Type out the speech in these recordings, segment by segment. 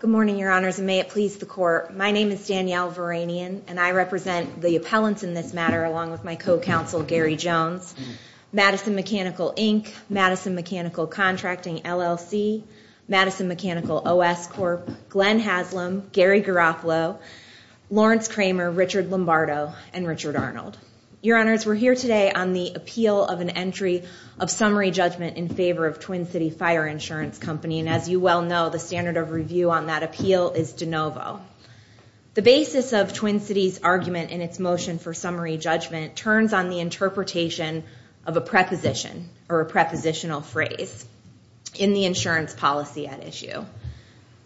Good morning, Your Honors, and may it please the Court. My name is Danielle Veranian, and I represent the appellants in this matter along with my co-counsel Gary Jones, Madison Mechanical, Inc., Madison Mechanical Contracting, LLC, Madison Mechanical OS Corp., Glenn Haslam, Gary Garofalo, Lawrence Kramer, Richard Lombardo, and Richard Arnold. Your Honors, we're here today on the appeal of an entry of summary judgment in favor of Twin City Fire Insurance Company. And as you well know, the standard of review on that appeal is de novo. The basis of Twin City's argument in its motion for summary judgment turns on the interpretation of a preposition or a prepositional phrase in the insurance policy at issue.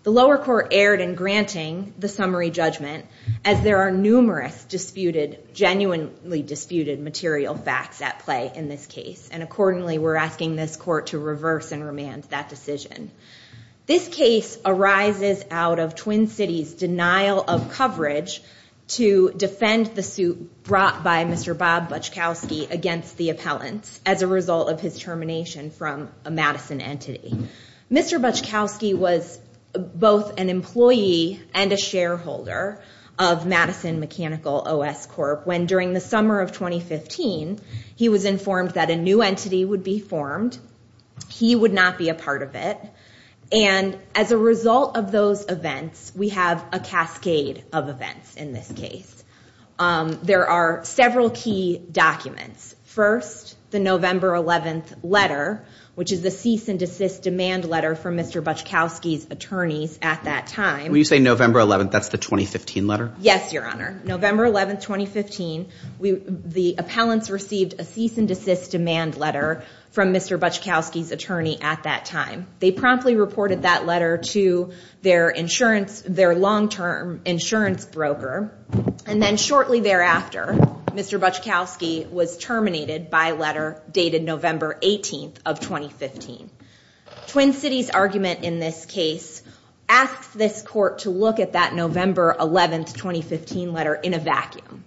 The lower court erred in granting the summary judgment as there are numerous disputed, genuinely disputed material facts at play in this case. And accordingly, we're asking this court to reverse and remand that decision. This case arises out of Twin City's denial of coverage to defend the suit brought by Mr. Bob Butchkowski against the appellants as a result of his termination from a Madison entity. Mr. Butchkowski was both an employee and a shareholder of Madison Mechanical OS Corp. When during the summer of 2015, he was informed that a new entity would be formed, he would not be a part of it. And as a result of those events, we have a cascade of events in this case. There are several key documents. First, the November 11th letter, which is the cease and desist demand letter from Mr. Butchkowski's attorneys at that time. When you say November 11th, that's the 2015 letter? Yes, Your Honor. November 11th, 2015, the appellants received a cease and desist demand letter from Mr. Butchkowski's attorney at that time. They promptly reported that letter to their insurance, their long-term insurance broker. And then shortly thereafter, Mr. Butchkowski was terminated by a letter dated November 18th of 2015. Twin Cities' argument in this case asks this court to look at that November 11th, 2015 letter in a vacuum.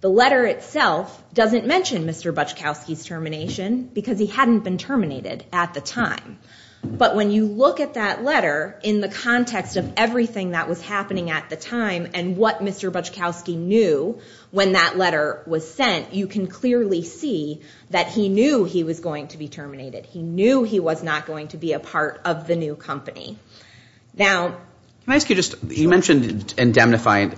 The letter itself doesn't mention Mr. Butchkowski's termination because he hadn't been terminated at the time. But when you look at that letter in the context of everything that was happening at the time and what Mr. Butchkowski knew when that letter was sent, you can clearly see that he knew he was going to be terminated. He knew he was not going to be a part of the new company. Now, can I ask you just, you mentioned indemnifying.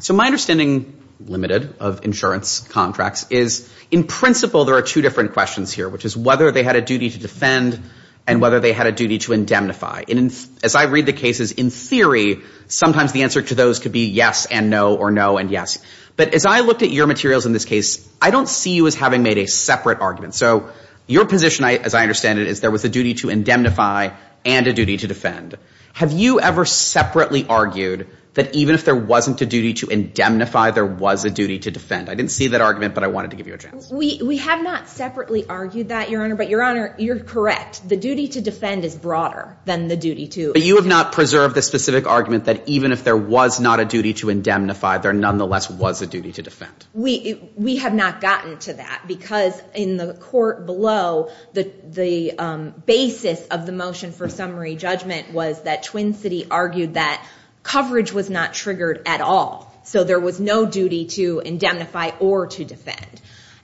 So my understanding, limited of insurance contracts, is in principle there are two different questions here, which is whether they had a duty to defend and whether they had a duty to indemnify. And as I read the cases, in theory, sometimes the answer to those could be yes and no or no and yes. But as I looked at your materials in this case, I don't see you as having made a separate argument. So your position, as I understand it, is there was a duty to indemnify and a duty to defend. Have you ever separately argued that even if there wasn't a duty to indemnify, there was a duty to defend? I didn't see that argument, but I wanted to give you a chance. We have not separately argued that, Your Honor. But, Your Honor, you're correct. The duty to defend is broader than the duty to indemnify. But you have not preserved the specific argument that even if there was not a duty to indemnify, there nonetheless was a duty to defend. We have not gotten to that because in the court below, the basis of the motion for summary judgment was that Twin City argued that coverage was not triggered at all. So there was no duty to indemnify or to defend.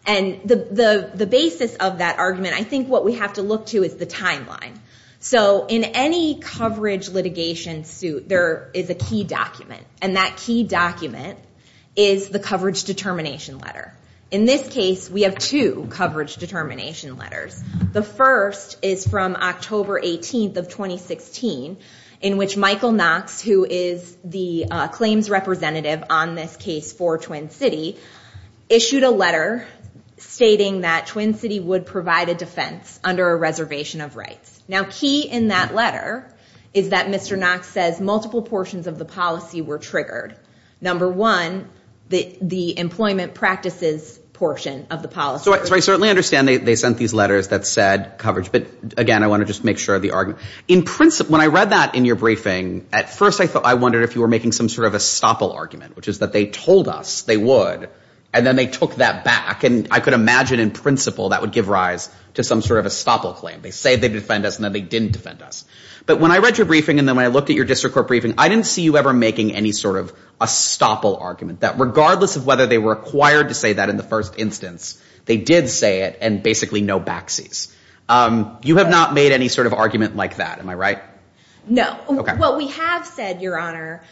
And the basis of that argument, I think what we have to look to is the timeline. So in any coverage litigation suit, there is a key document. And that key document is the coverage determination letter. In this case, we have two coverage determination letters. The first is from October 18th of 2016, in which Michael Knox, who is the claims representative on this case for Twin City, issued a letter stating that Twin City would provide a defense under a reservation of rights. Now, key in that letter is that Mr. Knox says multiple portions of the policy were triggered. Number one, the employment practices portion of the policy. So I certainly understand they sent these letters that said coverage. But, again, I want to just make sure of the argument. In principle, when I read that in your briefing, at first I wondered if you were making some sort of estoppel argument, which is that they told us they would, and then they took that back. And I could imagine in principle that would give rise to some sort of estoppel claim. They say they defend us, and then they didn't defend us. But when I read your briefing and then when I looked at your district court briefing, I didn't see you ever making any sort of estoppel argument, that regardless of whether they were required to say that in the first instance, they did say it, and basically no backseas. You have not made any sort of argument like that. Am I right? No. What we have said, Your Honor,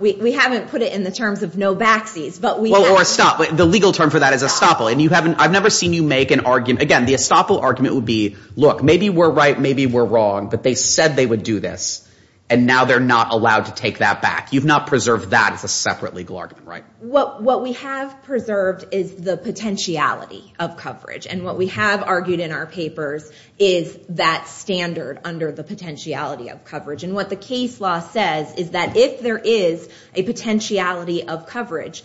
we haven't put it in the terms of no backseas. Or estoppel. The legal term for that is estoppel. And I've never seen you make an argument. Again, the estoppel argument would be, look, maybe we're right, maybe we're wrong, but they said they would do this, and now they're not allowed to take that back. You've not preserved that as a separate legal argument, right? What we have preserved is the potentiality of coverage. And what we have argued in our papers is that standard under the potentiality of coverage. And what the case law says is that if there is a potentiality of coverage,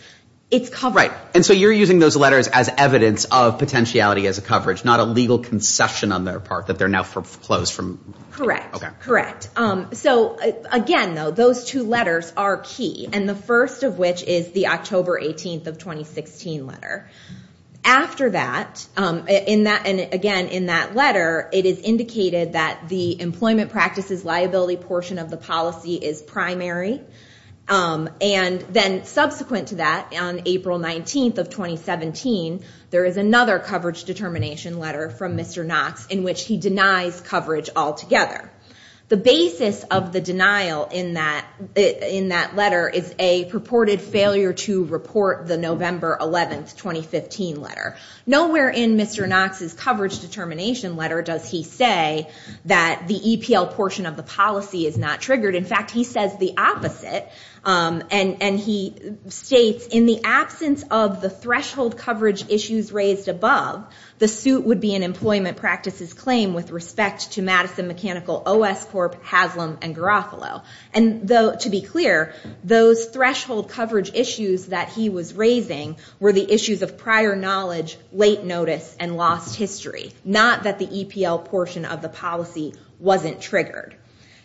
it's covered. Right. And so you're using those letters as evidence of potentiality as a coverage, not a legal concession on their part that they're now foreclosed from. Correct. Okay. Correct. So, again, though, those two letters are key, and the first of which is the October 18th of 2016 letter. After that, and again, in that letter, it is indicated that the employment practices liability portion of the policy is primary. And then subsequent to that, on April 19th of 2017, there is another coverage determination letter from Mr. Knox in which he denies coverage altogether. The basis of the denial in that letter is a purported failure to report the November 11th, 2015 letter. Nowhere in Mr. Knox's coverage determination letter does he say that the EPL portion of the policy is not triggered. In fact, he says the opposite, and he states, in the absence of the threshold coverage issues raised above, the suit would be an employment practices claim with respect to Madison Mechanical, OS Corp., Haslam, and Garofalo. And to be clear, those threshold coverage issues that he was raising were the issues of prior knowledge, late notice, and lost history, not that the EPL portion of the policy wasn't triggered.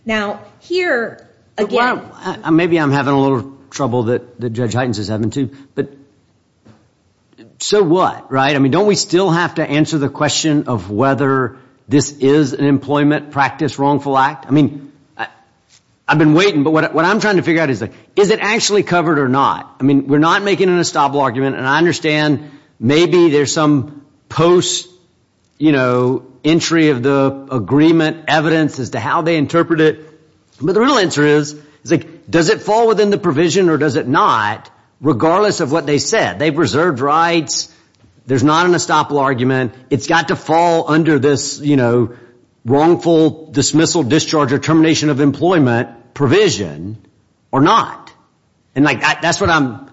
Now, here, again- Well, maybe I'm having a little trouble that Judge Heitens is having, too. But so what, right? I mean, don't we still have to answer the question of whether this is an employment practice wrongful act? I mean, I've been waiting, but what I'm trying to figure out is, is it actually covered or not? I mean, we're not making an estoppel argument, and I understand maybe there's some post-entry of the agreement evidence as to how they interpret it. But the real answer is, does it fall within the provision or does it not, regardless of what they said? They've reserved rights. There's not an estoppel argument. It's got to fall under this wrongful dismissal, discharge, or termination of employment provision or not. And that's what I'm-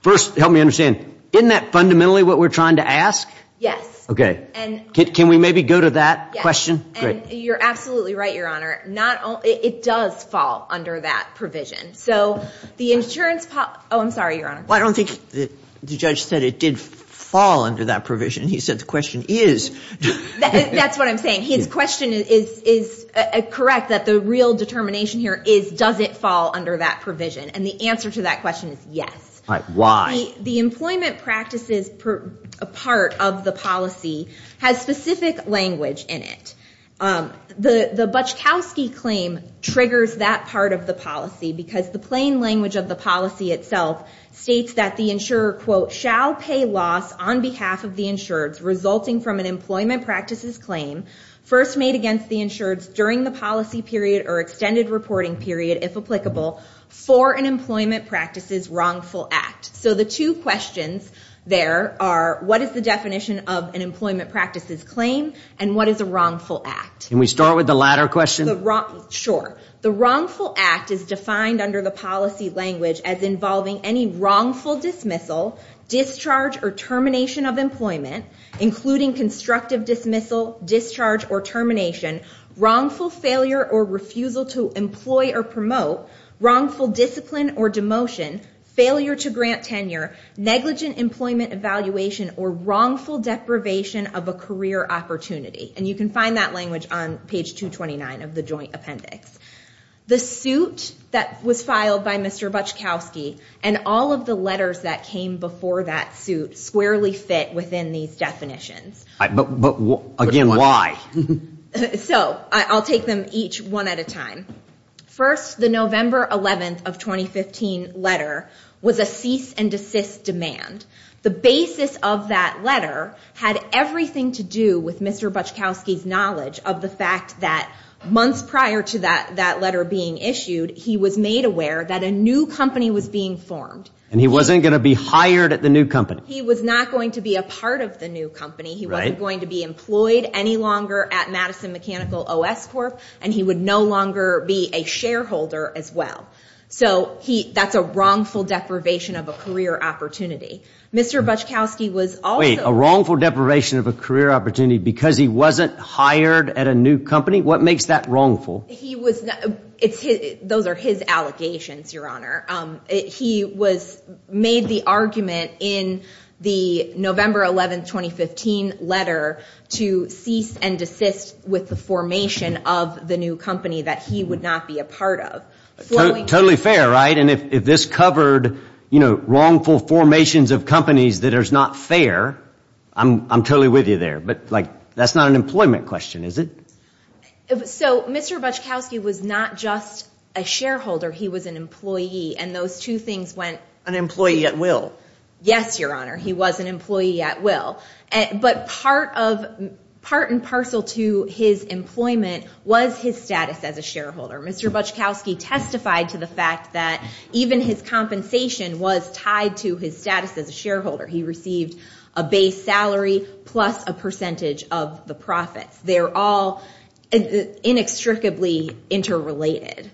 first, help me understand. Isn't that fundamentally what we're trying to ask? Yes. Okay. Can we maybe go to that question? You're absolutely right, Your Honor. It does fall under that provision. So the insurance- oh, I'm sorry, Your Honor. Well, I don't think the judge said it did fall under that provision. He said the question is. That's what I'm saying. His question is correct that the real determination here is, does it fall under that provision? And the answer to that question is yes. Why? The employment practices part of the policy has specific language in it. The Butchkowski claim triggers that part of the policy because the plain language of the policy itself states that the insurer, quote, shall pay loss on behalf of the insured resulting from an employment practices claim first made against the insured during the policy period or extended reporting period, if applicable, for an employment practices wrongful act. So the two questions there are what is the definition of an employment practices claim and what is a wrongful act? Can we start with the latter question? Sure. The wrongful act is defined under the policy language as involving any wrongful dismissal, discharge, or termination of employment, including constructive dismissal, discharge, or termination, wrongful failure or refusal to employ or promote, wrongful discipline or demotion, failure to grant tenure, negligent employment evaluation, or wrongful deprivation of a career opportunity. And you can find that language on page 229 of the joint appendix. The suit that was filed by Mr. Butchkowski and all of the letters that came before that suit squarely fit within these definitions. But again, why? So I'll take them each one at a time. First, the November 11th of 2015 letter was a cease and desist demand. The basis of that letter had everything to do with Mr. Butchkowski's knowledge of the fact that months prior to that letter being issued, he was made aware that a new company was being formed. And he wasn't going to be hired at the new company. He was not going to be a part of the new company. He wasn't going to be employed any longer at Madison Mechanical OS Corp. And he would no longer be a shareholder as well. So that's a wrongful deprivation of a career opportunity. Wait, a wrongful deprivation of a career opportunity because he wasn't hired at a new company? What makes that wrongful? Those are his allegations, Your Honor. He made the argument in the November 11th, 2015 letter to cease and desist with the formation of the new company that he would not be a part of. Totally fair, right? And if this covered, you know, wrongful formations of companies that are not fair, I'm totally with you there. But, like, that's not an employment question, is it? So Mr. Butchkowski was not just a shareholder. He was an employee. And those two things went. An employee at will. Yes, Your Honor. He was an employee at will. But part of, part and parcel to his employment was his status as a shareholder. Mr. Butchkowski testified to the fact that even his compensation was tied to his status as a shareholder. He received a base salary plus a percentage of the profits. They're all inextricably interrelated.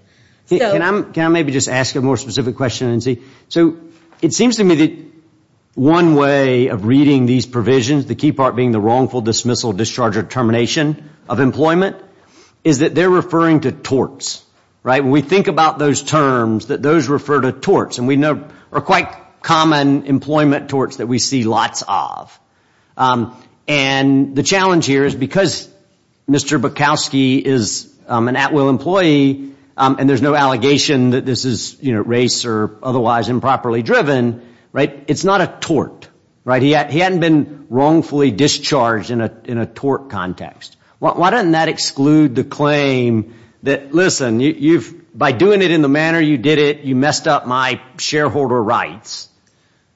Can I maybe just ask a more specific question? So it seems to me that one way of reading these provisions, the key part being the wrongful dismissal, discharge, or termination of employment, is that they're referring to torts, right? When we think about those terms, that those refer to torts. And we know there are quite common employment torts that we see lots of. And the challenge here is because Mr. Butchkowski is an at will employee, and there's no allegation that this is, you know, race or otherwise improperly driven, right? It's not a tort, right? He hadn't been wrongfully discharged in a tort context. Why doesn't that exclude the claim that, listen, by doing it in the manner you did it, you messed up my shareholder rights.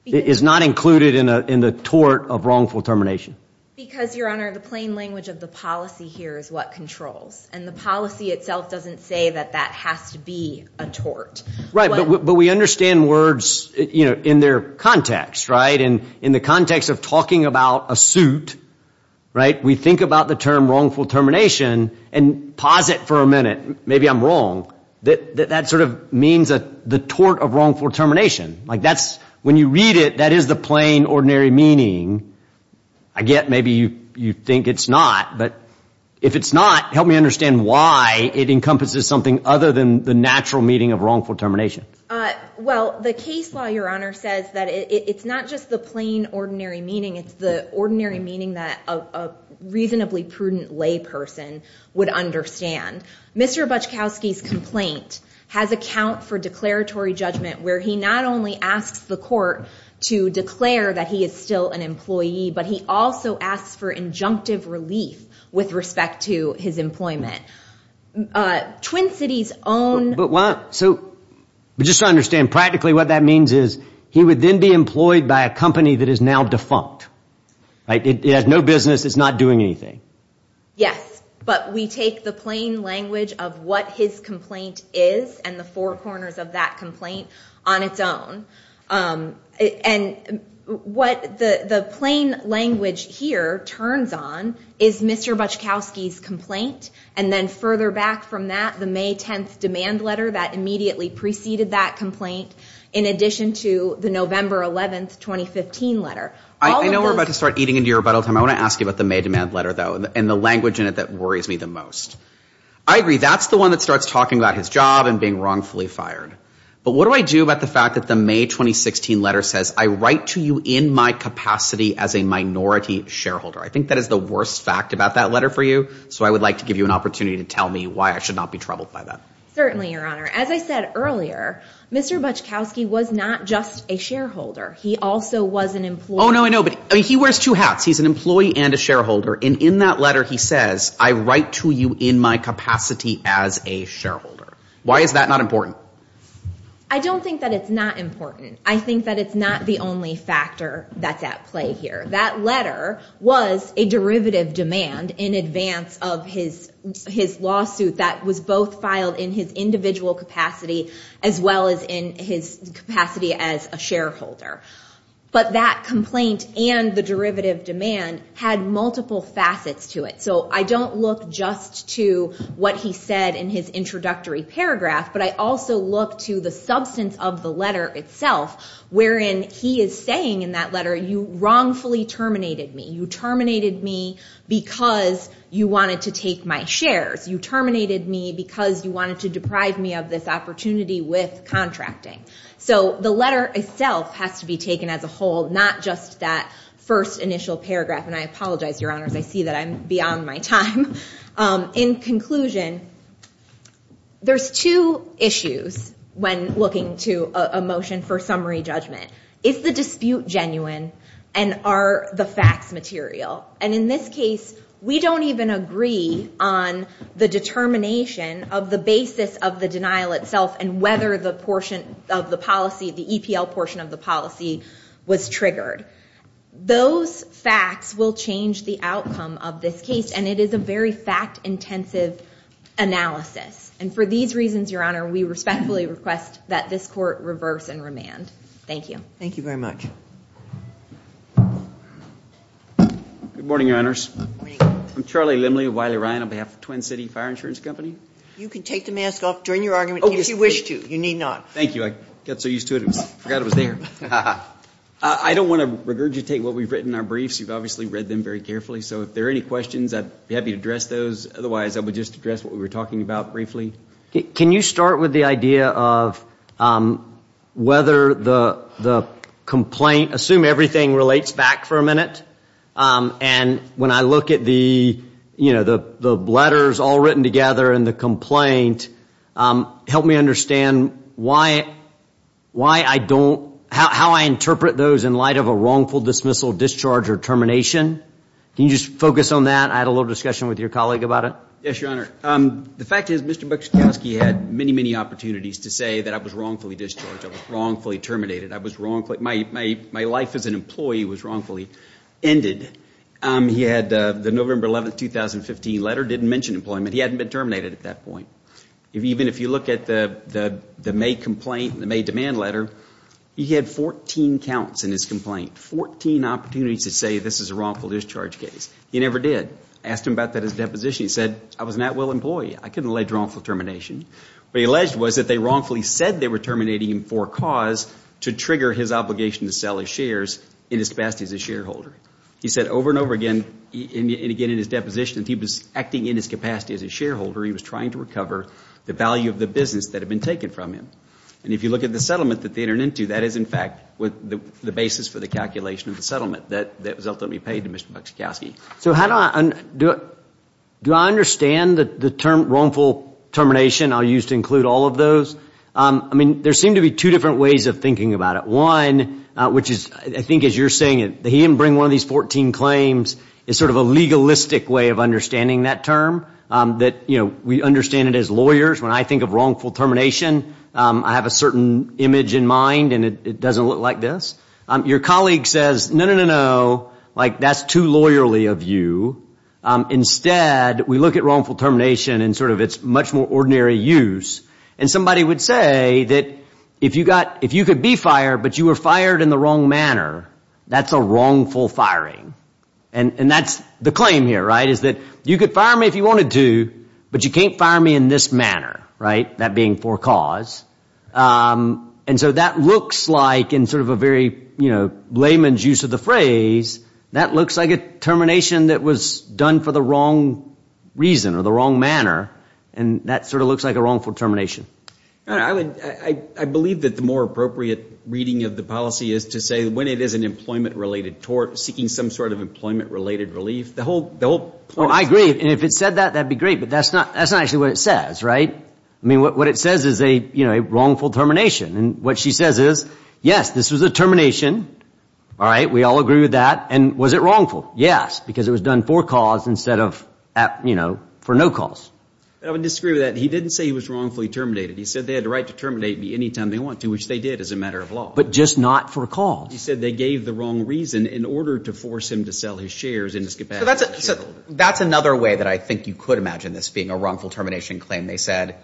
It is not included in the tort of wrongful termination. Because, Your Honor, the plain language of the policy here is what controls. And the policy itself doesn't say that that has to be a tort. Right, but we understand words, you know, in their context, right? We think about the term wrongful termination and pause it for a minute. Maybe I'm wrong. That sort of means the tort of wrongful termination. Like that's, when you read it, that is the plain ordinary meaning. I get maybe you think it's not. But if it's not, help me understand why it encompasses something other than the natural meaning of wrongful termination. Well, the case law, Your Honor, says that it's not just the plain ordinary meaning. It's the ordinary meaning that a reasonably prudent lay person would understand. Mr. Butchkowski's complaint has account for declaratory judgment where he not only asks the court to declare that he is still an employee, but he also asks for injunctive relief with respect to his employment. Twin Cities' own. But just to understand practically what that means is he would then be employed by a company that is now defunct. It has no business. It's not doing anything. Yes, but we take the plain language of what his complaint is and the four corners of that complaint on its own. And what the plain language here turns on is Mr. Butchkowski's complaint. And then further back from that, the May 10th demand letter that immediately preceded that complaint, in addition to the November 11th, 2015 letter. I know we're about to start eating into your rebuttal time. I want to ask you about the May demand letter, though, and the language in it that worries me the most. I agree. That's the one that starts talking about his job and being wrongfully fired. But what do I do about the fact that the May 2016 letter says, I write to you in my capacity as a minority shareholder. I think that is the worst fact about that letter for you. So I would like to give you an opportunity to tell me why I should not be troubled by that. Certainly, Your Honor. As I said earlier, Mr. Butchkowski was not just a shareholder. He also was an employee. Oh, no, I know. But he wears two hats. He's an employee and a shareholder. And in that letter, he says, I write to you in my capacity as a shareholder. Why is that not important? I don't think that it's not important. I think that it's not the only factor that's at play here. That letter was a derivative demand in advance of his lawsuit that was both filed in his individual capacity as well as in his capacity as a shareholder. But that complaint and the derivative demand had multiple facets to it. So I don't look just to what he said in his introductory paragraph, but I also look to the substance of the letter itself, wherein he is saying in that letter, you wrongfully terminated me. You terminated me because you wanted to take my shares. You terminated me because you wanted to deprive me of this opportunity with contracting. So the letter itself has to be taken as a whole, not just that first initial paragraph. And I apologize, Your Honors. I see that I'm beyond my time. In conclusion, there's two issues when looking to a motion for summary judgment. Is the dispute genuine and are the facts material? And in this case, we don't even agree on the determination of the basis of the denial itself and whether the portion of the policy, the EPL portion of the policy, was triggered. Those facts will change the outcome of this case, and it is a very fact-intensive analysis. And for these reasons, Your Honor, we respectfully request that this court reverse and remand. Thank you. Thank you very much. Good morning, Your Honors. Good morning. I'm Charlie Limley of Wiley Ryan on behalf of Twin City Fire Insurance Company. You can take the mask off during your argument if you wish to. You need not. Thank you. I got so used to it, I forgot it was there. I don't want to regurgitate what we've written in our briefs. You've obviously read them very carefully, so if there are any questions, I'd be happy to address those. Otherwise, I would just address what we were talking about briefly. Can you start with the idea of whether the complaint, assume everything relates back for a minute, and when I look at the letters all written together in the complaint, help me understand how I interpret those in light of a wrongful dismissal, discharge, or termination? Can you just focus on that? I had a little discussion with your colleague about it. Yes, Your Honor. The fact is Mr. Bukowski had many, many opportunities to say that I was wrongfully discharged. I was wrongfully terminated. My life as an employee was wrongfully ended. He had the November 11, 2015 letter, didn't mention employment. He hadn't been terminated at that point. Even if you look at the May complaint, the May demand letter, he had 14 counts in his complaint, 14 opportunities to say this is a wrongful discharge case. He never did. I asked him about that at his deposition. He said, I was an at-will employee. I couldn't allege wrongful termination. What he alleged was that they wrongfully said they were terminating him for a cause to trigger his obligation to sell his shares in his capacity as a shareholder. He said over and over again, and again in his deposition, that he was acting in his capacity as a shareholder. He was trying to recover the value of the business that had been taken from him. And if you look at the settlement that they turned into, that is in fact the basis for the calculation of the settlement that was ultimately paid to Mr. Bukowski. Do I understand the term wrongful termination? I'll use to include all of those. There seem to be two different ways of thinking about it. One, which is I think as you're saying, he didn't bring one of these 14 claims, is sort of a legalistic way of understanding that term. We understand it as lawyers. When I think of wrongful termination, I have a certain image in mind and it doesn't look like this. Your colleague says, no, no, no, no, that's too lawyerly of you. Instead, we look at wrongful termination and sort of its much more ordinary use. And somebody would say that if you could be fired, but you were fired in the wrong manner, that's a wrongful firing. And that's the claim here, right, is that you could fire me if you wanted to, but you can't fire me in this manner, right, that being for cause. And so that looks like in sort of a very, you know, layman's use of the phrase, that looks like a termination that was done for the wrong reason or the wrong manner, and that sort of looks like a wrongful termination. I believe that the more appropriate reading of the policy is to say when it is an employment-related tort, seeking some sort of employment-related relief. I agree, and if it said that, that would be great, but that's not actually what it says, right? I mean, what it says is, you know, a wrongful termination. And what she says is, yes, this was a termination, all right, we all agree with that. And was it wrongful? Yes, because it was done for cause instead of, you know, for no cause. I would disagree with that. He didn't say he was wrongfully terminated. He said they had the right to terminate me any time they want to, which they did as a matter of law. But just not for cause. He said they gave the wrong reason in order to force him to sell his shares in his capacity. So that's another way that I think you could imagine this being a wrongful termination claim. They said,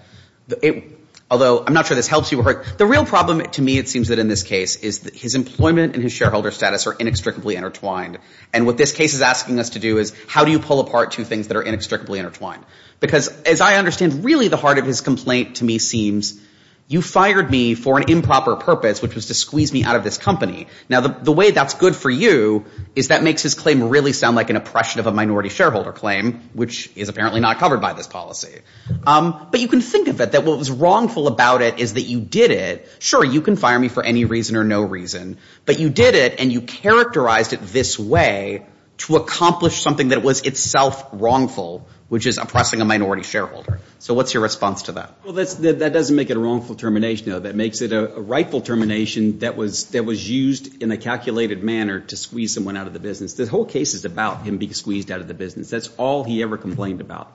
although I'm not sure this helps you. The real problem to me, it seems that in this case, is that his employment and his shareholder status are inextricably intertwined. And what this case is asking us to do is, how do you pull apart two things that are inextricably intertwined? Because as I understand, really the heart of his complaint to me seems, you fired me for an improper purpose, which was to squeeze me out of this company. Now, the way that's good for you is that makes his claim really sound like an oppression of a minority shareholder claim, which is apparently not covered by this policy. But you can think of it that what was wrongful about it is that you did it. Sure, you can fire me for any reason or no reason. But you did it and you characterized it this way to accomplish something that was itself wrongful, which is oppressing a minority shareholder. So what's your response to that? Well, that doesn't make it a wrongful termination. That makes it a rightful termination that was used in a calculated manner to squeeze someone out of the business. The whole case is about him being squeezed out of the business. That's all he ever complained about.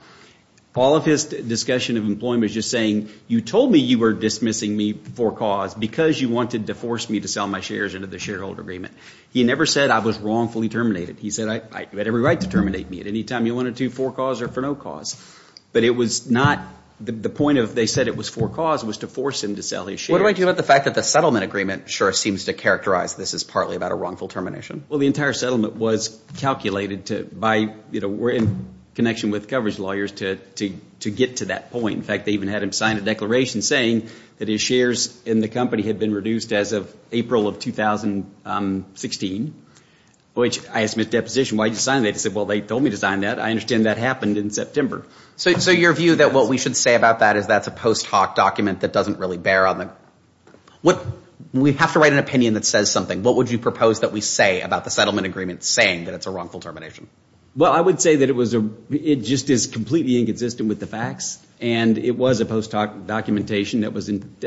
All of his discussion of employment is just saying you told me you were dismissing me for cause because you wanted to force me to sell my shares into the shareholder agreement. He never said I was wrongfully terminated. He said you had every right to terminate me at any time you wanted to, for cause or for no cause. But it was not – the point of they said it was for cause was to force him to sell his shares. What do I do about the fact that the settlement agreement sure seems to characterize this as partly about a wrongful termination? Well, the entire settlement was calculated by – were in connection with coverage lawyers to get to that point. In fact, they even had him sign a declaration saying that his shares in the company had been reduced as of April of 2016, which I asked him at deposition, why did you sign that? He said, well, they told me to sign that. I understand that happened in September. So your view that what we should say about that is that's a post hoc document that doesn't really bear on the – we have to write an opinion that says something. What would you propose that we say about the settlement agreement saying that it's a wrongful termination? Well, I would say that it was – it just is completely inconsistent with the facts. And it was a post hoc documentation that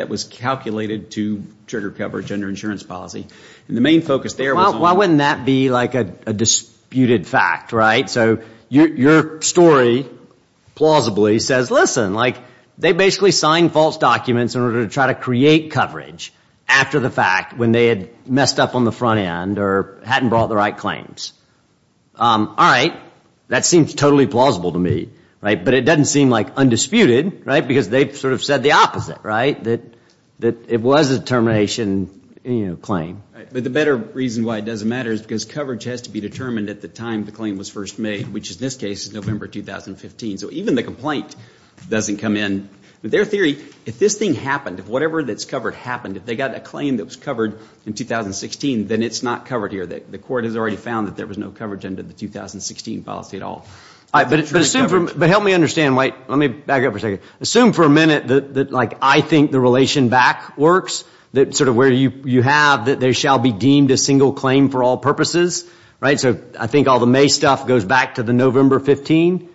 was calculated to trigger coverage under insurance policy. And the main focus there was – Why wouldn't that be like a disputed fact, right? So your story plausibly says, listen, like they basically signed false documents in order to try to create coverage after the fact when they had messed up on the front end or hadn't brought the right claims. All right. That seems totally plausible to me. But it doesn't seem like undisputed, right, because they sort of said the opposite, right, that it was a termination claim. But the better reason why it doesn't matter is because coverage has to be determined at the time the claim was first made, which in this case is November 2015. So even the complaint doesn't come in. But their theory, if this thing happened, if whatever that's covered happened, if they got a claim that was covered in 2016, then it's not covered here. The court has already found that there was no coverage under the 2016 policy at all. But help me understand. Let me back up for a second. Assume for a minute that, like, I think the relation back works, that sort of where you have that there shall be deemed a single claim for all purposes, right? So I think all the May stuff goes back to the November 15.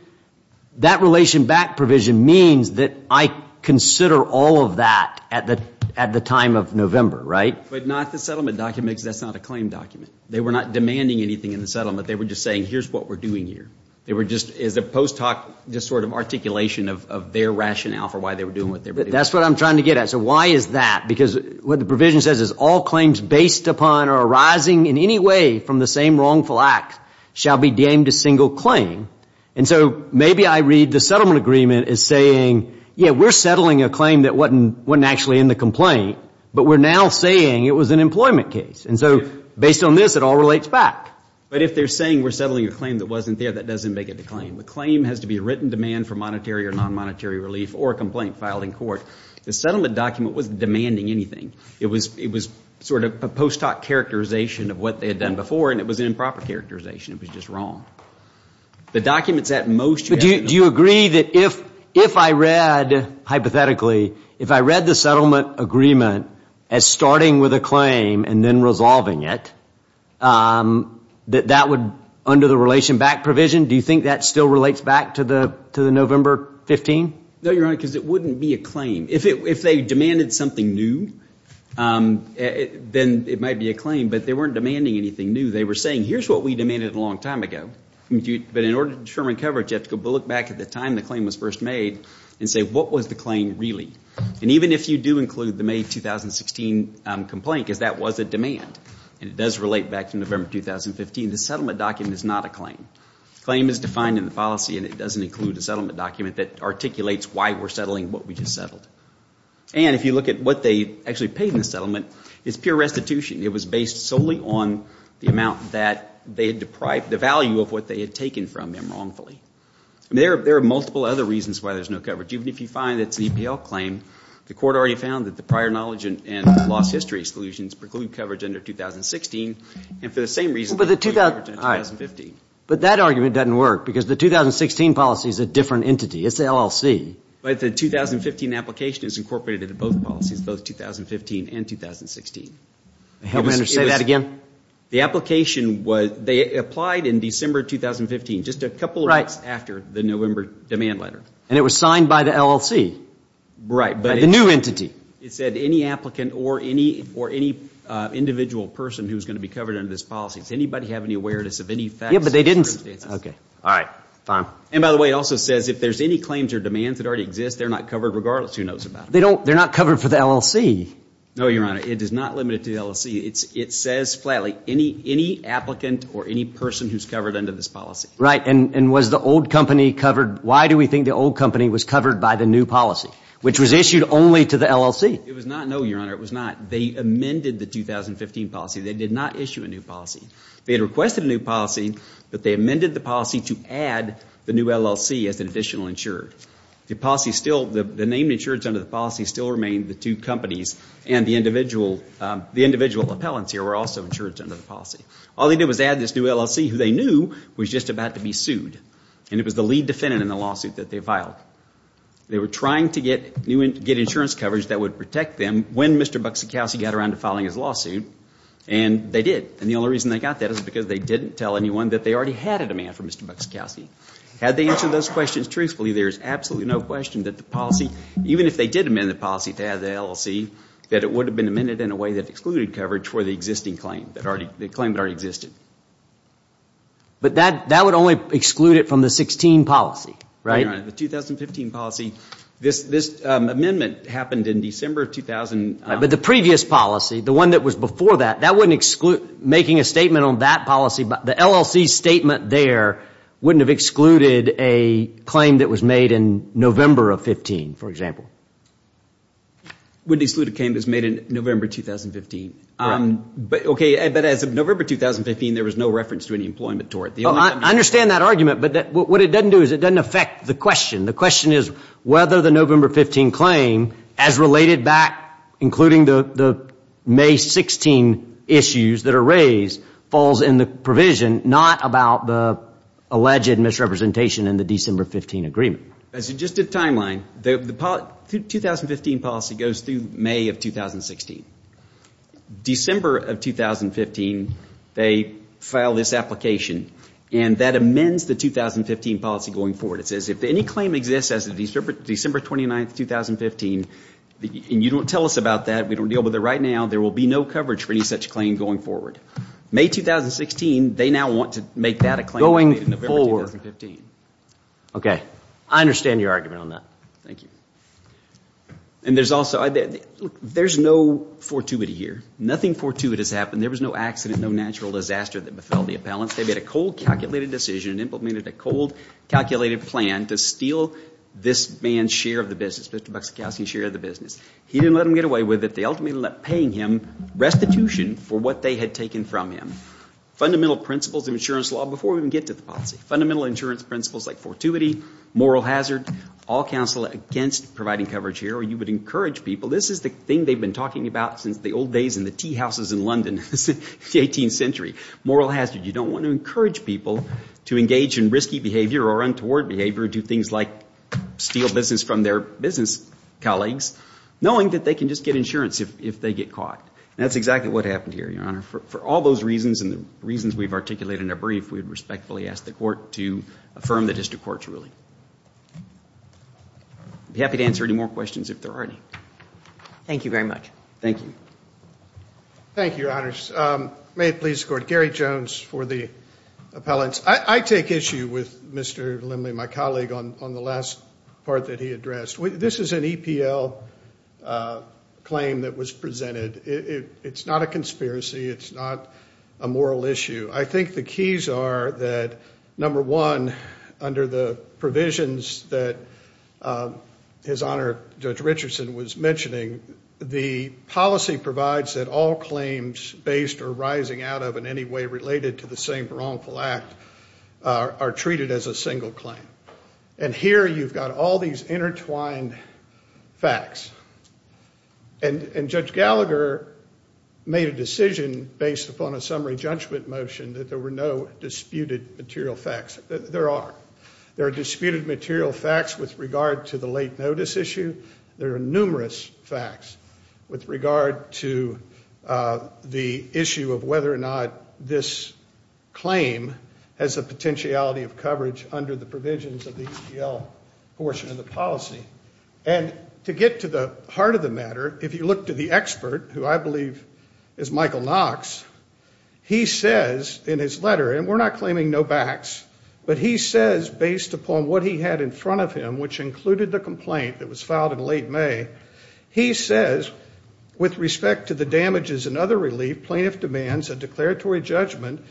That relation back provision means that I consider all of that at the time of November, right? But not the settlement documents. That's not a claim document. They were not demanding anything in the settlement. They were just saying, here's what we're doing here. They were just, as a post hoc, just sort of articulation of their rationale for why they were doing what they were doing. That's what I'm trying to get at. So why is that? Because what the provision says is all claims based upon or arising in any way from the same wrongful act shall be deemed a single claim. And so maybe I read the settlement agreement as saying, yeah, we're settling a claim that wasn't actually in the complaint, but we're now saying it was an employment case. And so based on this, it all relates back. But if they're saying we're settling a claim that wasn't there, that doesn't make it a claim. The claim has to be a written demand for monetary or non-monetary relief or a complaint filed in court. The settlement document wasn't demanding anything. It was sort of a post hoc characterization of what they had done before, and it was an improper characterization. It was just wrong. The documents at most you have to know. If I read hypothetically, if I read the settlement agreement as starting with a claim and then resolving it, that that would, under the relation back provision, do you think that still relates back to the November 15? No, Your Honor, because it wouldn't be a claim. If they demanded something new, then it might be a claim. But they weren't demanding anything new. They were saying, here's what we demanded a long time ago. But in order to determine coverage, you have to go back to the time the claim was first made and say, what was the claim really? And even if you do include the May 2016 complaint, because that was a demand, and it does relate back to November 2015, the settlement document is not a claim. The claim is defined in the policy, and it doesn't include a settlement document that articulates why we're settling what we just settled. And if you look at what they actually paid in the settlement, it's pure restitution. It was based solely on the amount that they had deprived, the value of what they had taken from them wrongfully. I mean, there are multiple other reasons why there's no coverage. Even if you find it's an EPL claim, the court already found that the prior knowledge and lost history exclusions preclude coverage under 2016, and for the same reason they don't include coverage under 2015. But that argument doesn't work, because the 2016 policy is a different entity. It's the LLC. But the 2015 application is incorporated into both policies, both 2015 and 2016. May I say that again? The application was, they applied in December 2015, just a couple of weeks after the November demand letter. And it was signed by the LLC? Right. By the new entity? It said any applicant or any individual person who's going to be covered under this policy. Does anybody have any awareness of any facts? Yeah, but they didn't. Okay. All right. Fine. And by the way, it also says if there's any claims or demands that already exist, they're not covered regardless. Who knows about it? They're not covered for the LLC. No, Your Honor. It is not limited to the LLC. It says flatly any applicant or any person who's covered under this policy. Right. And was the old company covered? Why do we think the old company was covered by the new policy, which was issued only to the LLC? It was not, no, Your Honor. It was not. They amended the 2015 policy. They did not issue a new policy. They had requested a new policy, but they amended the policy to add the new LLC as an additional insurer. The policy still, the name insurance under the policy still remained the two companies and the individual appellants here were also insured under the policy. All they did was add this new LLC who they knew was just about to be sued, and it was the lead defendant in the lawsuit that they filed. They were trying to get insurance coverage that would protect them when Mr. Buxikowsky got around to filing his lawsuit, and they did, and the only reason they got that is because they didn't tell anyone that they already had a demand from Mr. Buxikowsky. Had they answered those questions truthfully, there is absolutely no question that the policy, even if they did amend the policy to add the LLC, that it would have been amended in a way that excluded coverage for the existing claim, the claim that already existed. But that would only exclude it from the 2016 policy, right? Your Honor, the 2015 policy, this amendment happened in December of 2000. But the previous policy, the one that was before that, that wouldn't exclude making a statement on that policy. The LLC statement there wouldn't have excluded a claim that was made in November of 2015, for example. Wouldn't exclude a claim that was made in November 2015. Okay, but as of November 2015, there was no reference to any employment tort. I understand that argument, but what it doesn't do is it doesn't affect the question. The question is whether the November 2015 claim, as related back, including the May 16 issues that are raised, falls in the provision, not about the alleged misrepresentation in the December 15 agreement. As just a timeline, the 2015 policy goes through May of 2016. December of 2015, they file this application, and that amends the 2015 policy going forward. It says if any claim exists as of December 29, 2015, and you don't tell us about that, we don't deal with it right now, there will be no coverage for any such claim going forward. May 2016, they now want to make that a claim. Going forward. Okay, I understand your argument on that. Thank you. And there's also, there's no fortuity here. Nothing fortuitous happened. There was no accident, no natural disaster that befell the appellants. They made a cold, calculated decision and implemented a cold, calculated plan to steal this man's share of the business, Mr. Bukshikowsky's share of the business. He didn't let them get away with it. They ultimately ended up paying him restitution for what they had taken from him. Fundamental principles of insurance law, before we even get to the policy. Fundamental insurance principles like fortuity, moral hazard, all counsel against providing coverage here, or you would encourage people, this is the thing they've been talking about since the old days in the tea houses in London, the 18th century. Moral hazard. You don't want to encourage people to engage in risky behavior or untoward behavior, do things like steal business from their business colleagues, knowing that they can just get insurance if they get caught. And that's exactly what happened here, Your Honor. For all those reasons and the reasons we've articulated in our brief, we would respectfully ask the Court to affirm the district court's ruling. I'd be happy to answer any more questions if there are any. Thank you very much. Thank you. Thank you, Your Honors. May it please the Court. Gary Jones for the appellants. I take issue with Mr. Limley, my colleague, on the last part that he addressed. This is an EPL claim that was presented. It's not a conspiracy. It's not a moral issue. I think the keys are that, number one, under the provisions that His Honor Judge Richardson was mentioning, the policy provides that all claims based or rising out of in any way related to the same wrongful act are treated as a single claim. And here you've got all these intertwined facts. And Judge Gallagher made a decision based upon a summary judgment motion that there were no disputed material facts. There are. There are disputed material facts with regard to the late notice issue. There are numerous facts with regard to the issue of whether or not this claim has the potentiality of coverage under the provisions of the EPL portion of the policy. And to get to the heart of the matter, if you look to the expert, who I believe is Michael Knox, he says in his letter, and we're not claiming no backs, but he says based upon what he had in front of him, which included the complaint that was filed in late May, he says with respect to the damages and other relief, plaintiff demands a declaratory judgment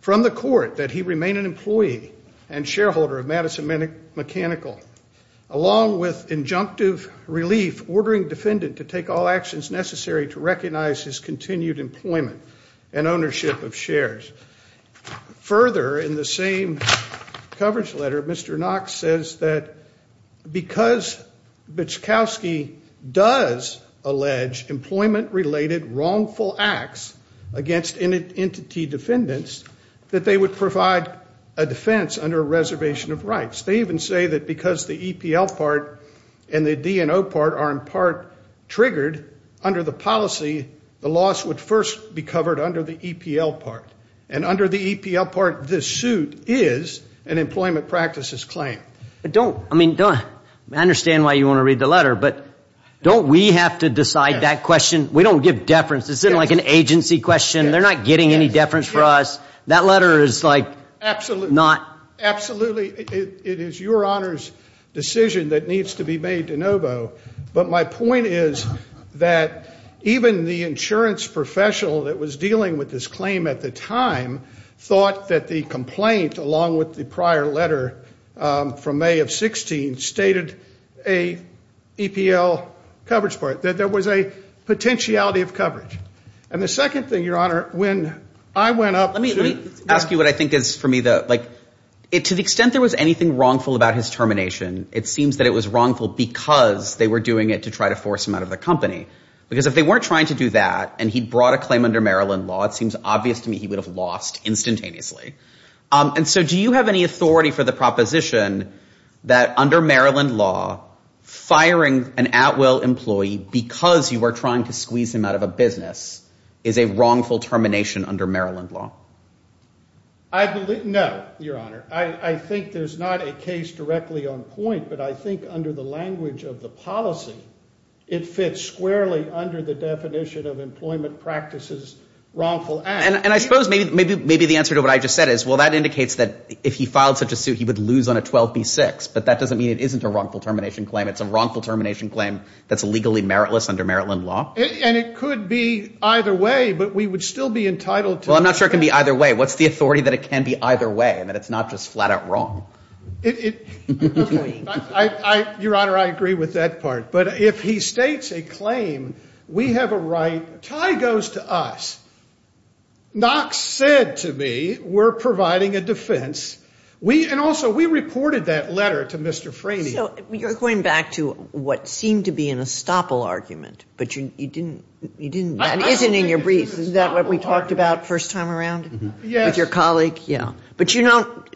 from the court that he remain an employee and shareholder of Madison Mechanical. Along with injunctive relief, ordering defendant to take all actions necessary to recognize his continued employment and ownership of shares. Further, in the same coverage letter, Mr. Knox says that because Bichkowski does allege employment-related wrongful acts against entity defendants, that they would provide a defense under a reservation of rights. They even say that because the EPL part and the DNO part are in part triggered under the policy, the loss would first be covered under the EPL part. And under the EPL part, this suit is an employment practices claim. But don't, I mean, I understand why you want to read the letter, but don't we have to decide that question? We don't give deference. It's like an agency question. They're not getting any deference for us. That letter is like not. Absolutely. It is your Honor's decision that needs to be made de novo. But my point is that even the insurance professional that was dealing with this claim at the time thought that the complaint, along with the prior letter from May of 16, stated a EPL coverage part, that there was a potentiality of coverage. And the second thing, Your Honor, when I went up. Let me ask you what I think is for me the, like, to the extent there was anything wrongful about his termination, it seems that it was wrongful because they were doing it to try to force him out of the company. Because if they weren't trying to do that and he brought a claim under Maryland law, it seems obvious to me he would have lost instantaneously. And so do you have any authority for the proposition that under Maryland law, firing an Atwell employee because you are trying to squeeze him out of a business is a wrongful termination under Maryland law? I believe, no, Your Honor. I think there's not a case directly on point, but I think under the language of the policy, it fits squarely under the definition of employment practices wrongful act. And I suppose maybe the answer to what I just said is, well, that indicates that if he filed such a suit, he would lose on a 12B6. But that doesn't mean it isn't a wrongful termination claim. It's a wrongful termination claim that's illegally meritless under Maryland law. And it could be either way, but we would still be entitled to that. Well, I'm not sure it can be either way. What's the authority that it can be either way and that it's not just flat out wrong? Your Honor, I agree with that part. But if he states a claim, we have a right, tie goes to us. Knox said to me we're providing a defense. And also we reported that letter to Mr. Franey. So you're going back to what seemed to be an estoppel argument, but you didn't. That isn't in your brief. Is that what we talked about first time around? Yes. With your colleague? Yeah.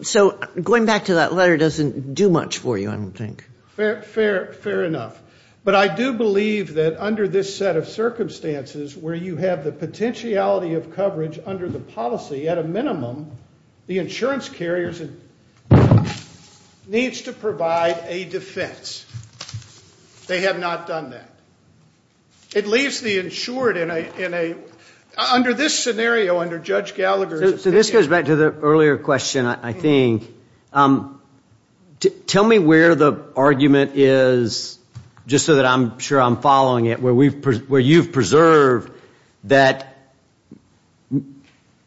So going back to that letter doesn't do much for you, I don't think. Fair enough. But I do believe that under this set of circumstances where you have the potentiality of coverage under the policy, at a minimum the insurance carrier needs to provide a defense. They have not done that. It leaves the insured in a under this scenario under Judge Gallagher's opinion. So this goes back to the earlier question, I think. Tell me where the argument is, just so that I'm sure I'm following it, where you've preserved that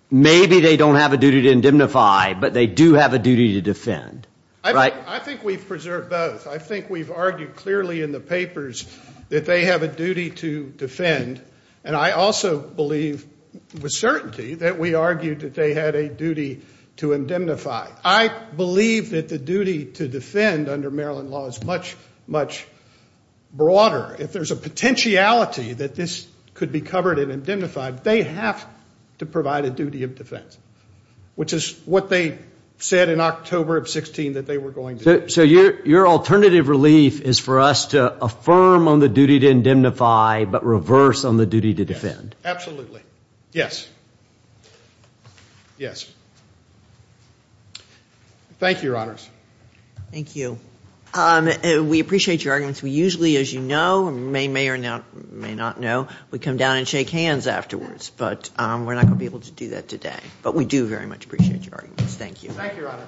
maybe they don't have a duty to indemnify, but they do have a duty to defend. I think we've preserved both. I think we've argued clearly in the papers that they have a duty to defend. And I also believe with certainty that we argued that they had a duty to indemnify. I believe that the duty to defend under Maryland law is much, much broader. If there's a potentiality that this could be covered and indemnified, they have to provide a duty of defense, which is what they said in October of 16 that they were going to do. So your alternative relief is for us to affirm on the duty to indemnify but reverse on the duty to defend? Absolutely. Yes. Yes. Thank you, Your Honors. Thank you. We appreciate your arguments. We usually, as you know, may or may not know, we come down and shake hands afterwards. But we're not going to be able to do that today. But we do very much appreciate your arguments. Thank you, Your Honors.